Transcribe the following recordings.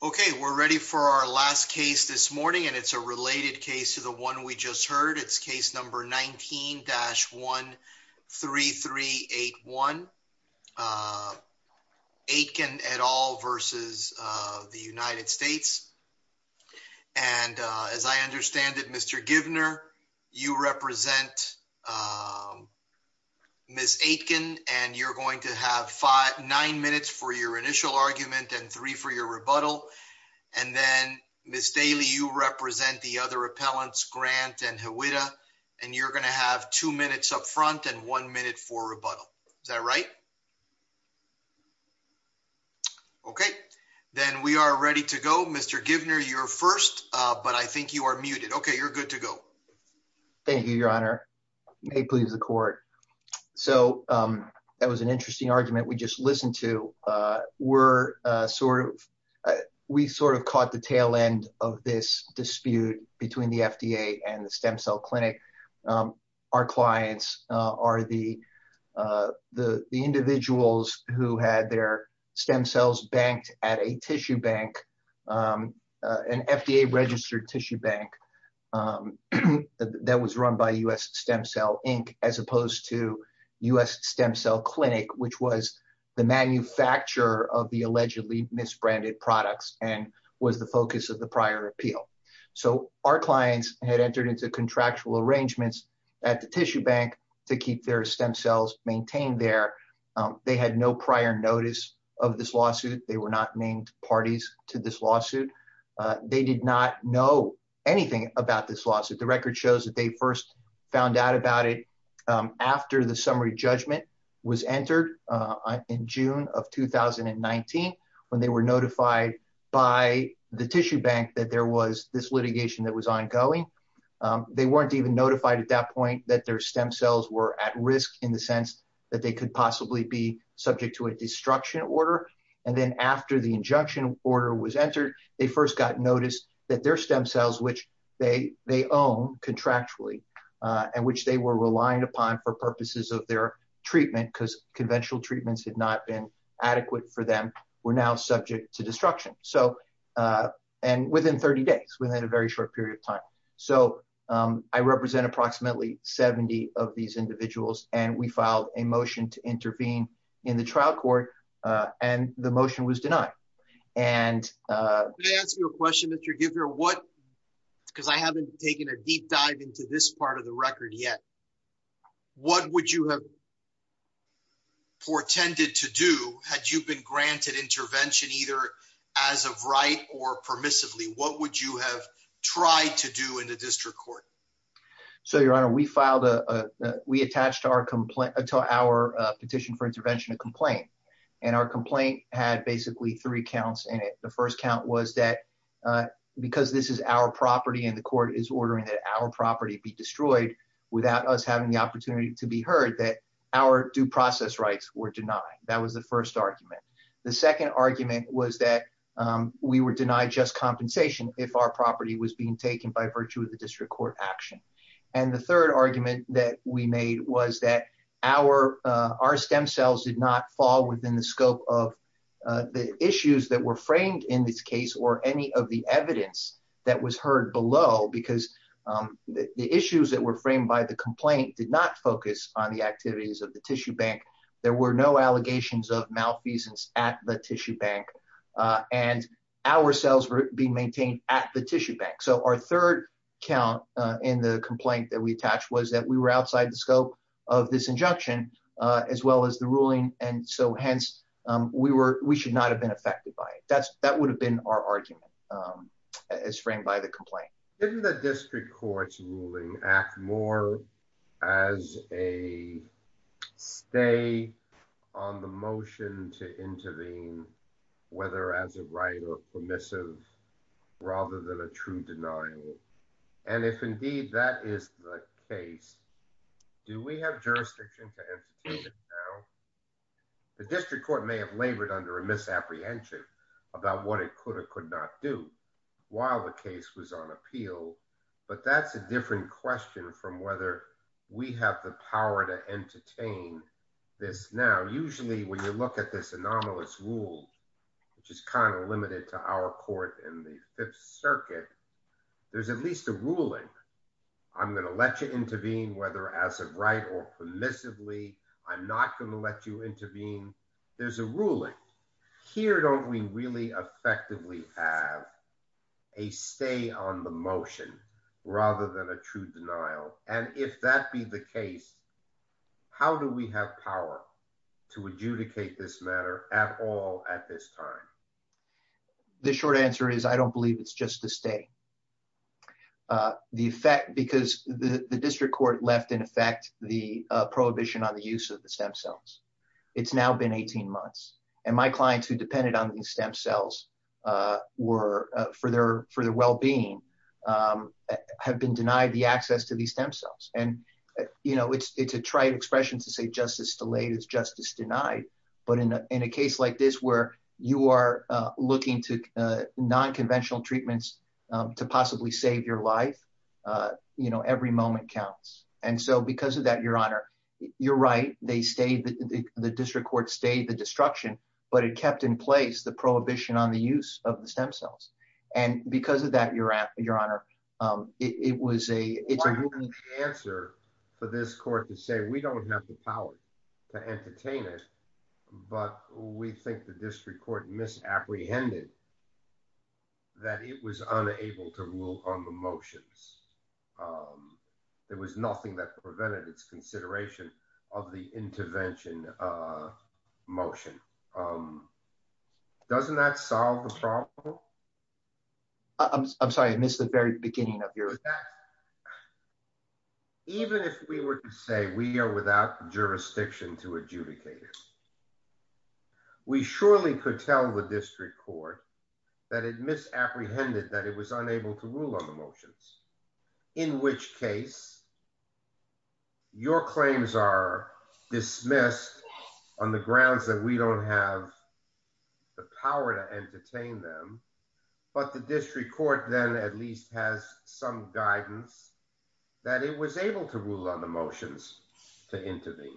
Okay, we're ready for our last case this morning and it's a related case to the one we just heard. It's case number 19-13381. Aitken et al versus the United States. And as I understand it, Mr. Givner, you represent Ms. Aitken and you're going to have nine minutes for your initial argument and three for your rebuttal. And then Ms. Daly, you represent the other appellants, Grant and Hwita, and you're going to have two minutes up front and one minute for rebuttal. Is that right? Okay, then we are ready to go. Mr. Givner, you're first, but I think you are muted. Okay, you're good to go. Thank you, your honor. May it please the court. So that was an interesting argument. We just listened to, we sort of caught the tail end of this dispute between the FDA and the Stem Cell Clinic. Our clients are the individuals who had their stem cells banked at a tissue bank, an FDA registered tissue bank that was run by US Stem Cell Inc. as opposed to US Stem Cell Clinic, which was the manufacturer of the allegedly misbranded products and was the focus of the prior appeal. So our clients had entered into contractual arrangements at the tissue bank to keep their stem cells maintained there. They had no prior notice of this lawsuit. They were not named parties to this lawsuit. They did not know anything about this lawsuit. The record shows that they first found out about it after the summary judgment was entered in June of 2019, when they were notified by the tissue bank that there was this litigation that was ongoing. They weren't even notified at that point that their stem cells were at risk in the sense that they could possibly be subject to a destruction order. And then after the injunction order was entered, they first got noticed that their stem cells, which they own contractually and which they were relying upon for purposes of their treatment, because conventional treatments had not been adequate for them, were now subject to destruction. So, and within 30 days, within a very short period of time. So I represent approximately 70 of these individuals and we filed a motion to intervene in the trial court and the motion was denied. And- Can I ask you a question, Mr. Gifford, what, because I haven't taken a deep dive into this part of the record yet. What would you have portended to do had you been granted intervention either as of right or permissively? What would you have tried to do in the district court? So, your honor, we filed a, we attached to our petition for intervention a complaint and our complaint had basically three counts in it. The first count was that because this is our property and the court is ordering that our property be destroyed without us having the opportunity to be heard that our due process rights were denied. That was the first argument. The second argument was that we were denied just compensation if our property was being taken by virtue of the district court action. And the third argument that we made was that our stem cells did not fall within the scope of the issues that were framed in this case or any of the evidence that was heard below because the issues that were framed by the complaint did not focus on the activities of the tissue bank. There were no allegations of malfeasance at the tissue bank and our cells were being maintained at the tissue bank. So our third count in the complaint that we attached was that we were outside the scope of this injunction as well as the ruling. And so hence we should not have been affected by it. That would have been our argument as framed by the complaint. Didn't the district court's ruling act more as a stay on the motion to intervene whether as a right or permissive rather than a true denial? And if indeed that is the case, do we have jurisdiction to entertain it now? The district court may have labored under a misapprehension about what it could or could not do while the case was on appeal. But that's a different question from whether we have the power to entertain this now. Usually when you look at this anomalous rule, which is kind of limited to our court in the Fifth Circuit, there's at least a ruling. I'm gonna let you intervene whether as a right or permissively. I'm not gonna let you intervene. There's a ruling. Here don't we really effectively have a stay on the motion rather than a true denial? And if that be the case, how do we have power to adjudicate this matter at all at this time? The short answer is I don't believe it's just a stay. The effect, because the district court left in effect the prohibition on the use of the stem cells. It's now been 18 months. And my clients who depended on these stem cells for their well-being have been denied the access to these stem cells. And it's a trite expression to say justice delayed is justice denied. But in a case like this where you are looking to non-conventional treatments to possibly save your life, every moment counts. And so because of that, your honor, you're right. They stayed, the district court stayed the destruction but it kept in place the prohibition on the use of the stem cells. And because of that, your honor, it was a, it's a ruling. Answer for this court to say, we don't have the power to entertain it but we think the district court misapprehended that it was unable to rule on the motions. There was nothing that prevented its consideration of the intervention motion. Doesn't that solve the problem? I'm sorry, I missed the very beginning of your- With that, even if we were to say we are without jurisdiction to adjudicate it, we surely could tell the district court that it misapprehended that it was unable to rule on the motions. In which case, your claims are dismissed on the grounds that we don't have the power to entertain them. But the district court then at least has some guidance that it was able to rule on the motions to intervene.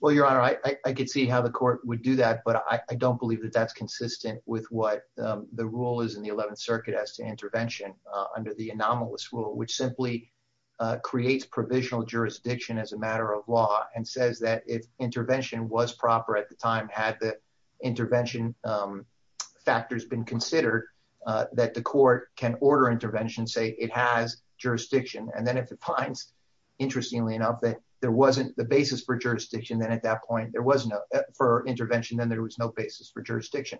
Well, your honor, I could see how the court would do that but I don't believe that that's consistent with what the rule is in the 11th circuit as to intervention under the anomalous rule which simply creates provisional jurisdiction as a matter of law. And says that if intervention was proper at the time had the intervention factors been considered that the court can order intervention, say it has jurisdiction. And then if it finds interestingly enough that there wasn't the basis for jurisdiction then at that point there was no, for intervention then there was no basis for jurisdiction.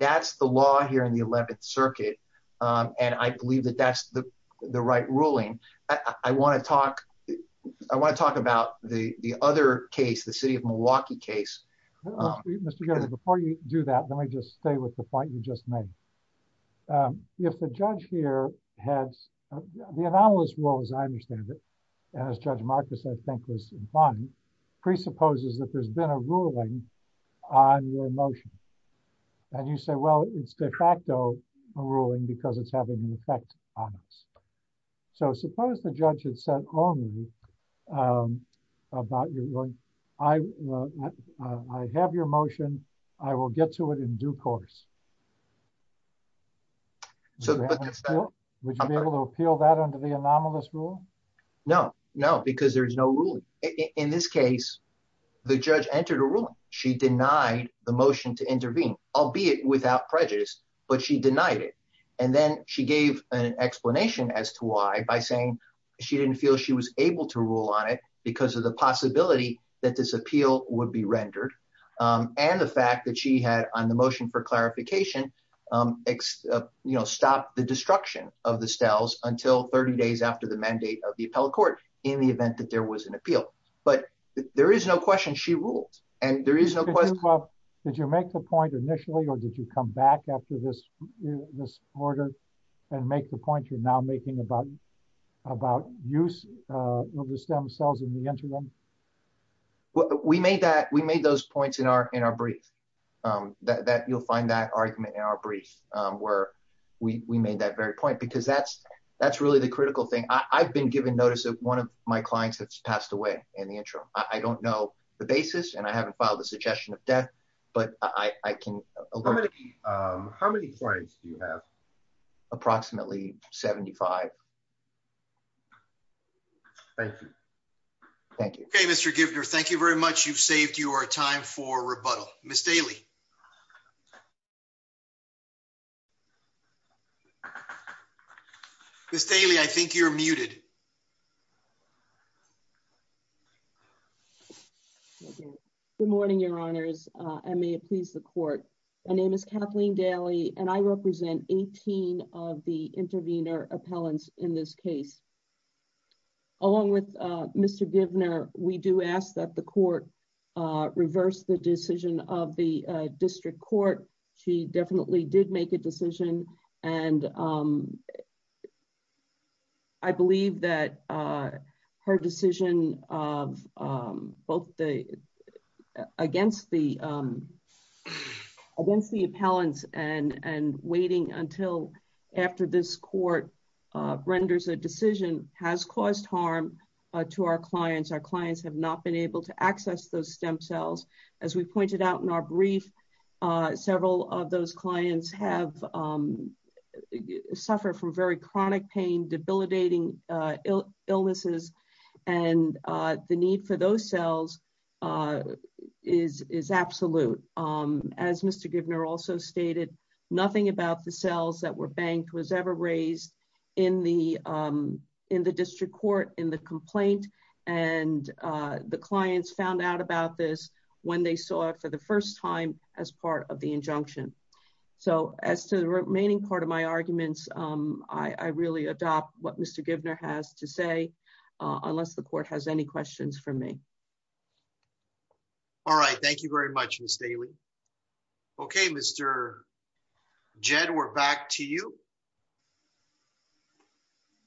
That's the law here in the 11th circuit. And I believe that that's the right ruling. I wanna talk about the other case, the city of Milwaukee case. Mr. Gover, before you do that, let me just stay with the point you just made. If the judge here has, the anomalous rule as I understand it, as Judge Marcus I think was implying, presupposes that there's been a ruling on your motion. And you say, well, it's de facto a ruling because it's having an effect on us. So suppose the judge had said only about your ruling, I have your motion, I will get to it in due course. Would you be able to appeal that under the anomalous rule? No, no, because there's no ruling. In this case, the judge entered a ruling. She denied the motion to intervene, albeit without prejudice, but she denied it. And then she gave an explanation as to why by saying she didn't feel she was able to rule on it because of the possibility that this appeal would be rendered and the fact that she had on the motion for clarification, stopped the destruction of the steles until 30 days after the mandate of the appellate court in the event that there was an appeal. But there is no question she ruled. And there is no question. Did you make the point initially or did you come back after this order and make the point you're now making about use of the stem cells in the interim? Well, we made those points in our brief that you'll find that argument in our brief where we made that very point because that's really the critical thing. I've been given notice of one of my clients that's passed away in the interim. I don't know the basis and I haven't filed a suggestion of death, but I can alert you. How many clients do you have? Approximately 75. Thank you. Thank you. Okay, Mr. Giffner, thank you very much. You've saved your time for rebuttal. Ms. Daly. Ms. Daly, I think you're muted. Good morning, your honors. And may it please the court. My name is Kathleen Daly and I represent 18 of the intervener appellants in this case. Along with Mr. Giffner, we do ask that the court reverse the decision of the district court. She definitely did make a decision and I believe that her decision against the appellants and waiting until after this court renders a decision has caused harm to our clients. Our clients have not been able to access those stem cells. As we pointed out in our brief, several of those clients have suffered from very chronic pain, debilitating illnesses. And the need for those cells is absolute. As Mr. Giffner also stated, nothing about the cells that were banked was ever raised in the district court in the complaint. And the clients found out about this when they saw it for the first time as part of the injunction. So as to the remaining part of my arguments, I really adopt what Mr. Giffner has to say, unless the court has any questions for me. All right, thank you very much, Ms. Daly. Okay, Mr. Jed, we're back to you.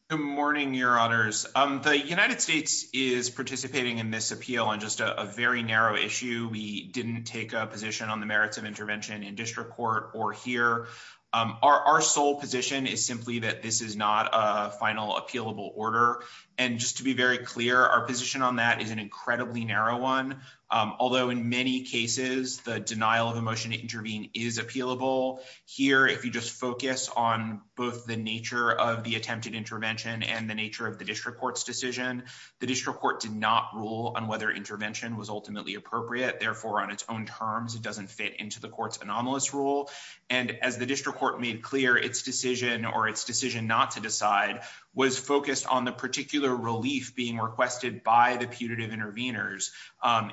Good morning, your honors. The United States is participating in this appeal on just a very narrow issue. We didn't take a position on the merits of intervention in district court or here. Our sole position is simply that this is not a final appealable order. And just to be very clear, our position on that is an incredibly narrow one. Although in many cases, the denial of a motion to intervene is appealable. Here, if you just focus on both the nature of the attempted intervention and the nature of the district court's decision, the district court did not rule on whether intervention was ultimately appropriate. Therefore, on its own terms, it doesn't fit into the court's anomalous rule. And as the district court made clear, its decision or its decision not to decide was focused on the particular relief being requested by the putative intervenors.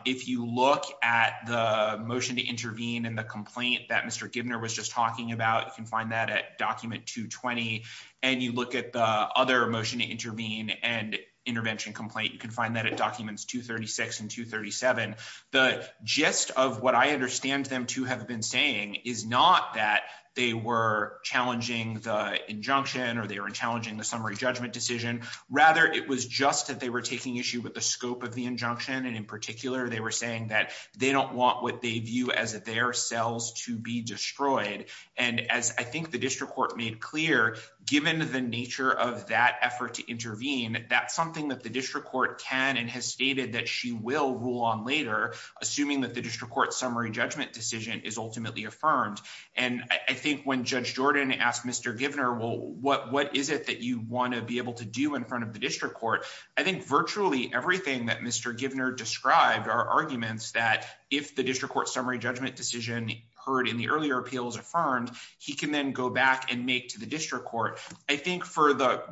If you look at the motion to intervene and the complaint that Mr. Giffner was just talking about, you can find that at document 220, and you look at the other motion to intervene and intervention complaint, you can find that at documents 236 and 237. The gist of what I understand them to have been saying is not that they were challenging the injunction or they were challenging the summary judgment decision. Rather, it was just that they were taking issue with the scope of the injunction. And in particular, they were saying that they don't want what they view as their cells to be destroyed. And as I think the district court made clear, given the nature of that effort to intervene, that's something that the district court can and has stated that she will rule on later, assuming that the district court's summary judgment decision is ultimately affirmed. And I think when Judge Jordan asked Mr. Giffner, well, what is it that you wanna be able to do in front of the district court? I think virtually everything that Mr. Giffner described are arguments that if the district court's summary judgment decision heard in the earlier appeal is affirmed, he can then go back and make to the district court. I think for the-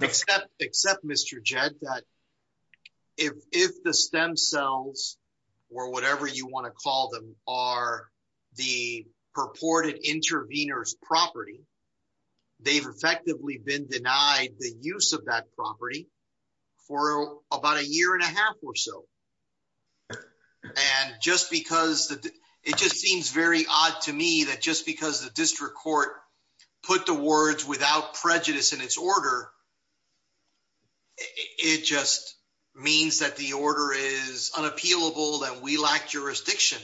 Except Mr. Jed, that if the stem cells or whatever you wanna call them are the purported intervener's property, they've effectively been denied the use of that property for about a year and a half or so. And just because, it just seems very odd to me that just because the district court put the words without prejudice in its order, it just means that the order is unappealable and we lack jurisdiction.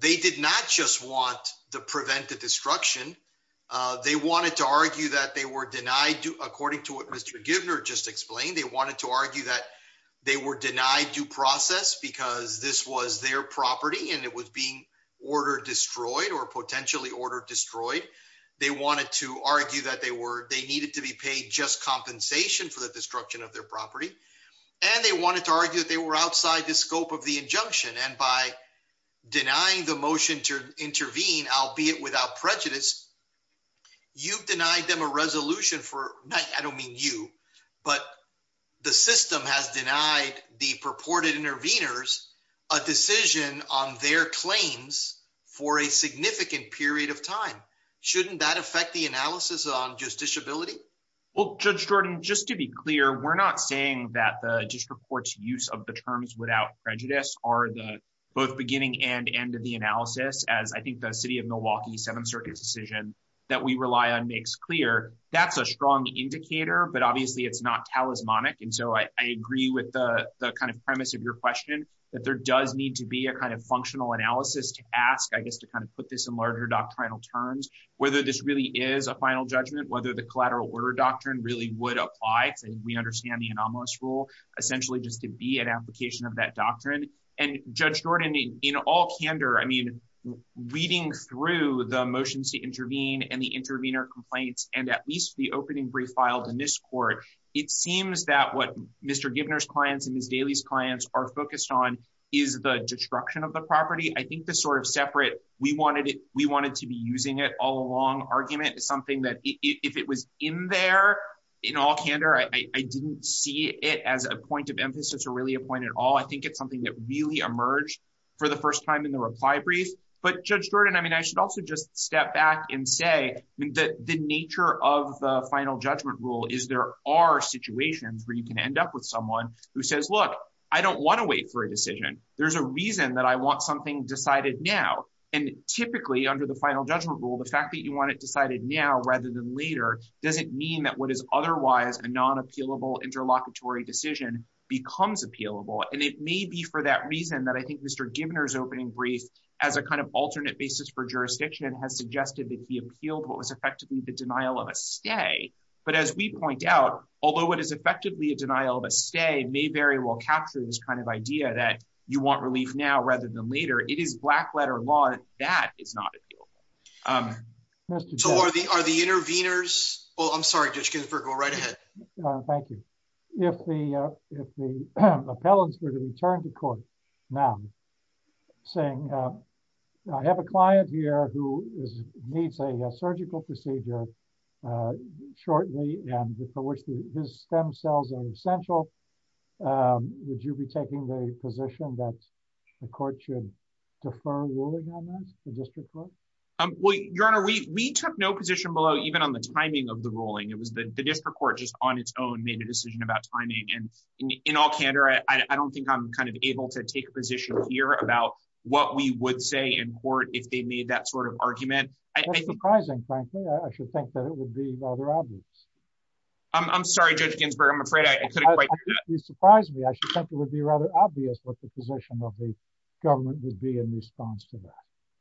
They did not just want to prevent the destruction. They wanted to argue that they were denied, according to what Mr. Giffner just explained, they wanted to argue that they were denied due process because this was their property and it was being ordered destroyed or potentially ordered destroyed. They wanted to argue that they needed to be paid just compensation for the destruction of their property. And they wanted to argue that they were outside the scope of the injunction. And by denying the motion to intervene, albeit without prejudice, you've denied them a resolution for, I don't mean you, but the system has denied the purported interveners a decision on their claims for a significant period of time. Shouldn't that affect the analysis on justiciability? Well, Judge Jordan, just to be clear, we're not saying that the district court's use of the terms without prejudice are the both beginning and end of the analysis as I think the city of Milwaukee Seventh Circuit's decision that we rely on makes clear. That's a strong indicator, but obviously it's not talismanic. And so I agree with the kind of premise of your question that there does need to be a kind of functional analysis to ask, I guess, to kind of put this in larger doctrinal terms, whether this really is a final judgment, whether the collateral order doctrine really would apply. So we understand the anomalous rule essentially just to be an application of that doctrine. And Judge Jordan, in all candor, I mean, reading through the motions to intervene and the intervener complaints, and at least the opening brief filed in this court, it seems that what Mr. Gibner's clients and Ms. Daly's clients are focused on is the destruction of the property. I think the sort of separate, we wanted to be using it all along argument is something that if it was in there in all candor, I didn't see it as a point of emphasis or really a point at all. I think it's something that really emerged for the first time in the reply brief. But Judge Jordan, I mean, I should also just step back and say the nature of the final judgment rule is there are situations where you can end up with someone who says, look, I don't wanna wait for a decision. There's a reason that I want something decided now. And typically under the final judgment rule, the fact that you want it decided now rather than later, doesn't mean that what is otherwise a non-appealable interlocutory decision becomes appealable. And it may be for that reason that I think Mr. Gibner's opening brief as a kind of alternate basis for jurisdiction has suggested that he appealed what was effectively the denial of a stay. But as we point out, although what is effectively a denial of a stay may very well capture this kind of idea that you want relief now rather than later, it is black letter law that is not appealable. Mr. Gibner. So are the interveners, oh, I'm sorry, Judge Ginsburg, go right ahead. Thank you. If the appellants were to return to court now saying I have a client here who needs a surgical procedure shortly and for which his stem cells are essential, would you be taking the position that the court should defer ruling on that, the district court? Well, Your Honor, we took no position below even on the timing of the ruling. It was the district court just on its own made a decision about timing. And in all candor, I don't think I'm kind of able to take a position here about what we would say in court if they made that sort of argument. That's surprising, frankly. I should think that it would be rather obvious. I'm sorry, Judge Ginsburg. I'm afraid I couldn't quite hear that. You surprised me. I should think it would be rather obvious what the position of the government would be in response to that.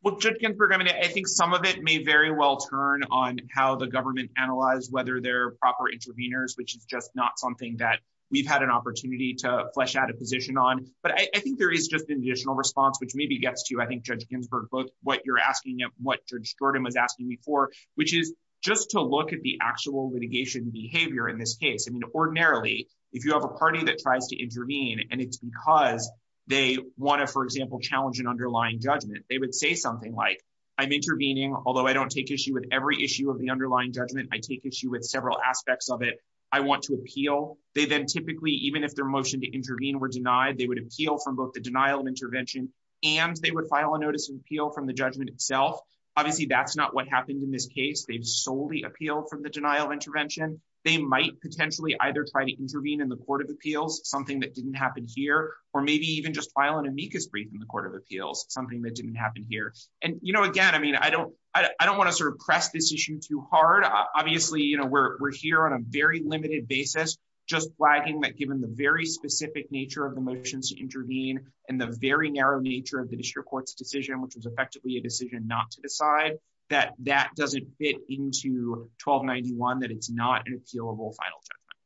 Well, Judge Ginsburg, I mean, I think some of it may very well turn on how the government analyze whether they're proper interveners, which is just not something that we've had an opportunity to flesh out a position on. But I think there is just an additional response, which maybe gets to, I think, Judge Ginsburg, both what you're asking and what Judge Jordan was asking me for, which is just to look at the actual litigation behavior in this case. Ordinarily, if you have a party that tries to intervene and it's because they wanna, for example, challenge an underlying judgment, they would say something like, I'm intervening, although I don't take issue with every issue of the underlying judgment, I take issue with several aspects of it. I want to appeal. They then typically, even if their motion to intervene were denied, they would appeal from both the denial of intervention and they would file a notice of appeal from the judgment itself. Obviously, that's not what happened in this case. They've solely appealed from the denial of intervention. They might potentially either try to intervene in the court of appeals, something that didn't happen here, or maybe even just file an amicus brief in the court of appeals, something that didn't happen here. And again, I don't wanna sort of press this issue too hard. Obviously, we're here on a very limited basis, just flagging that given the very specific nature of the motions to intervene and the very narrow nature of the district court's decision, which was effectively a decision not to decide, that that doesn't fit into 1291, that it's not an appealable final judgment,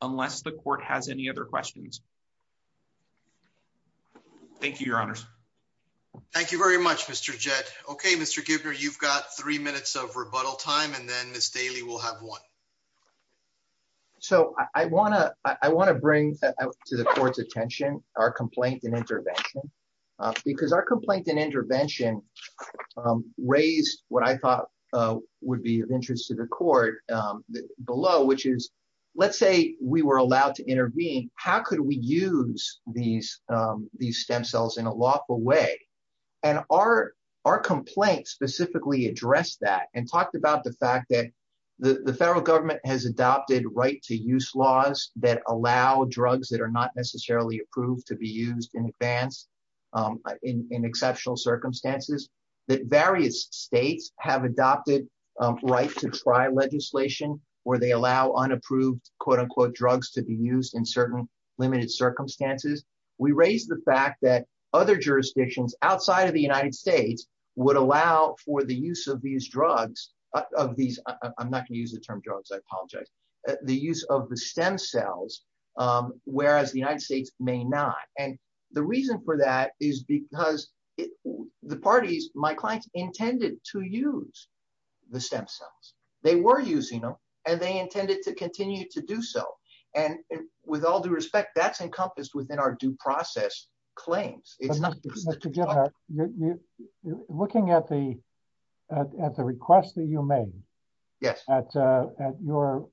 unless the court has any other questions. Thank you, your honors. Thank you very much, Mr. Jett. Okay, Mr. Gibner, you've got three minutes of rebuttal time and then Ms. Daly will have one. So I wanna bring to the court's attention our complaint and intervention, because our complaint and intervention raised what I thought would be of interest to the court below, which is, let's say we were allowed to intervene, how could we use these stem cells in a lawful way? And our complaint specifically addressed that and talked about the fact that the federal government has adopted right-to-use laws that allow drugs that are not necessarily approved to be used in advance in exceptional circumstances, that various states have adopted right-to-try legislation where they allow unapproved, quote-unquote, drugs to be used in certain limited circumstances. We raised the fact that other jurisdictions outside of the United States would allow for the use of these drugs, of these, I'm not gonna use the term drugs, I apologize, the use of the stem cells, whereas the United States may not. And the reason for that is because the parties, my clients, intended to use the stem cells. They were using them and they intended to continue to do so. And with all due respect, that's encompassed within our due process claims. It's not- Mr. Gifford, looking at the request that you made- Yes. At your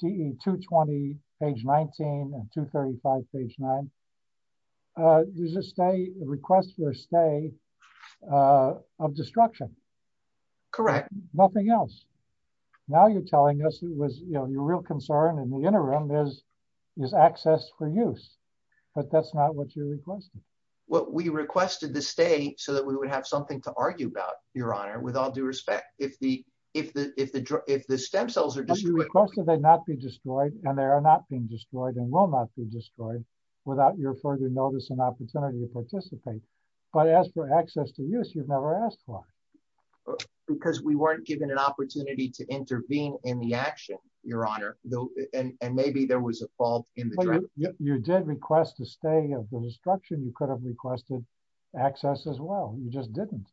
DE 220, page 19, and 235, page 9, there's a request for a stay of destruction. Correct. Nothing else. Now you're telling us it was, you know, your real concern in the interim is access for use, but that's not what you requested. Well, we requested the stay so that we would have something to argue about, Your Honor, with all due respect. If the stem cells are destroyed- But you requested they not be destroyed, and they are not being destroyed and will not be destroyed without your further notice and opportunity to participate. But as for access to use, you've never asked why. Because we weren't given an opportunity to intervene in the action, Your Honor. And maybe there was a fault in the- You did request a stay of the destruction. You could have requested access as well. You just didn't.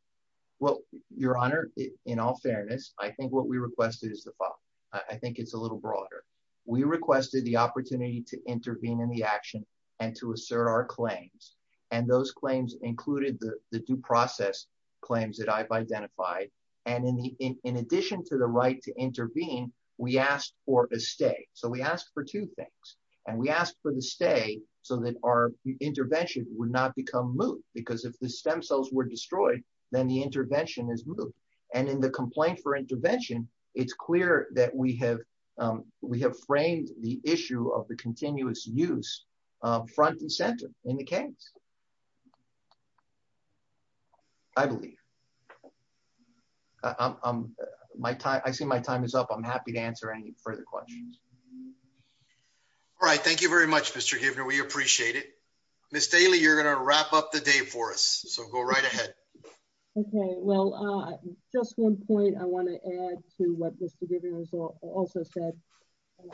Well, Your Honor, in all fairness, I think what we requested is the fault. I think it's a little broader. We requested the opportunity to intervene in the action and to assert our claims. And those claims included the due process claims that I've identified. And in addition to the right to intervene, we asked for a stay. So we asked for two things. And we asked for the stay so that our intervention would not become moot because if the stem cells were destroyed, then the intervention is moot. And in the complaint for intervention, it's clear that we have framed the issue of the continuous use front and center in the case. I believe. I see my time is up. I'm happy to answer any further questions. All right. Thank you very much, Mr. Gibner. We appreciate it. Ms. Daly, you're going to wrap up the day for us. So go right ahead. Okay. Well, just one point I want to add to what Mr. Gibner has also said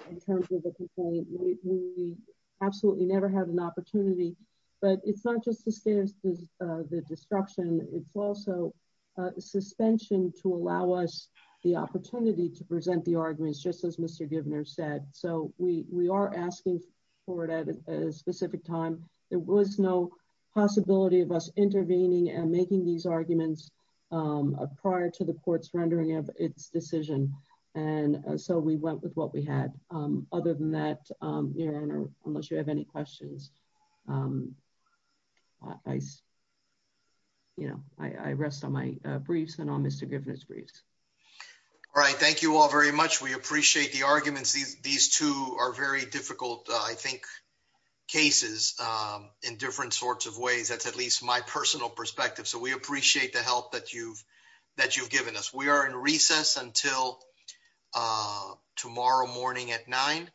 in terms of the complaint. We absolutely never have an opportunity, but it's not just the state of the destruction. It's also a suspension to allow us the opportunity to present the arguments, just as Mr. Gibner said. So we are asking for it at a specific time. There was no possibility of us intervening and making these arguments prior to the court's rendering of its decision. And so we went with what we had. Other than that, unless you have any questions, I rest on my briefs and on Mr. Gibner's briefs. All right. Thank you all very much. We appreciate the arguments. These two are very difficult, I think, cases in different sorts of ways. That's at least my personal perspective. So we appreciate the help that you've given us. We are in recess until tomorrow morning at nine.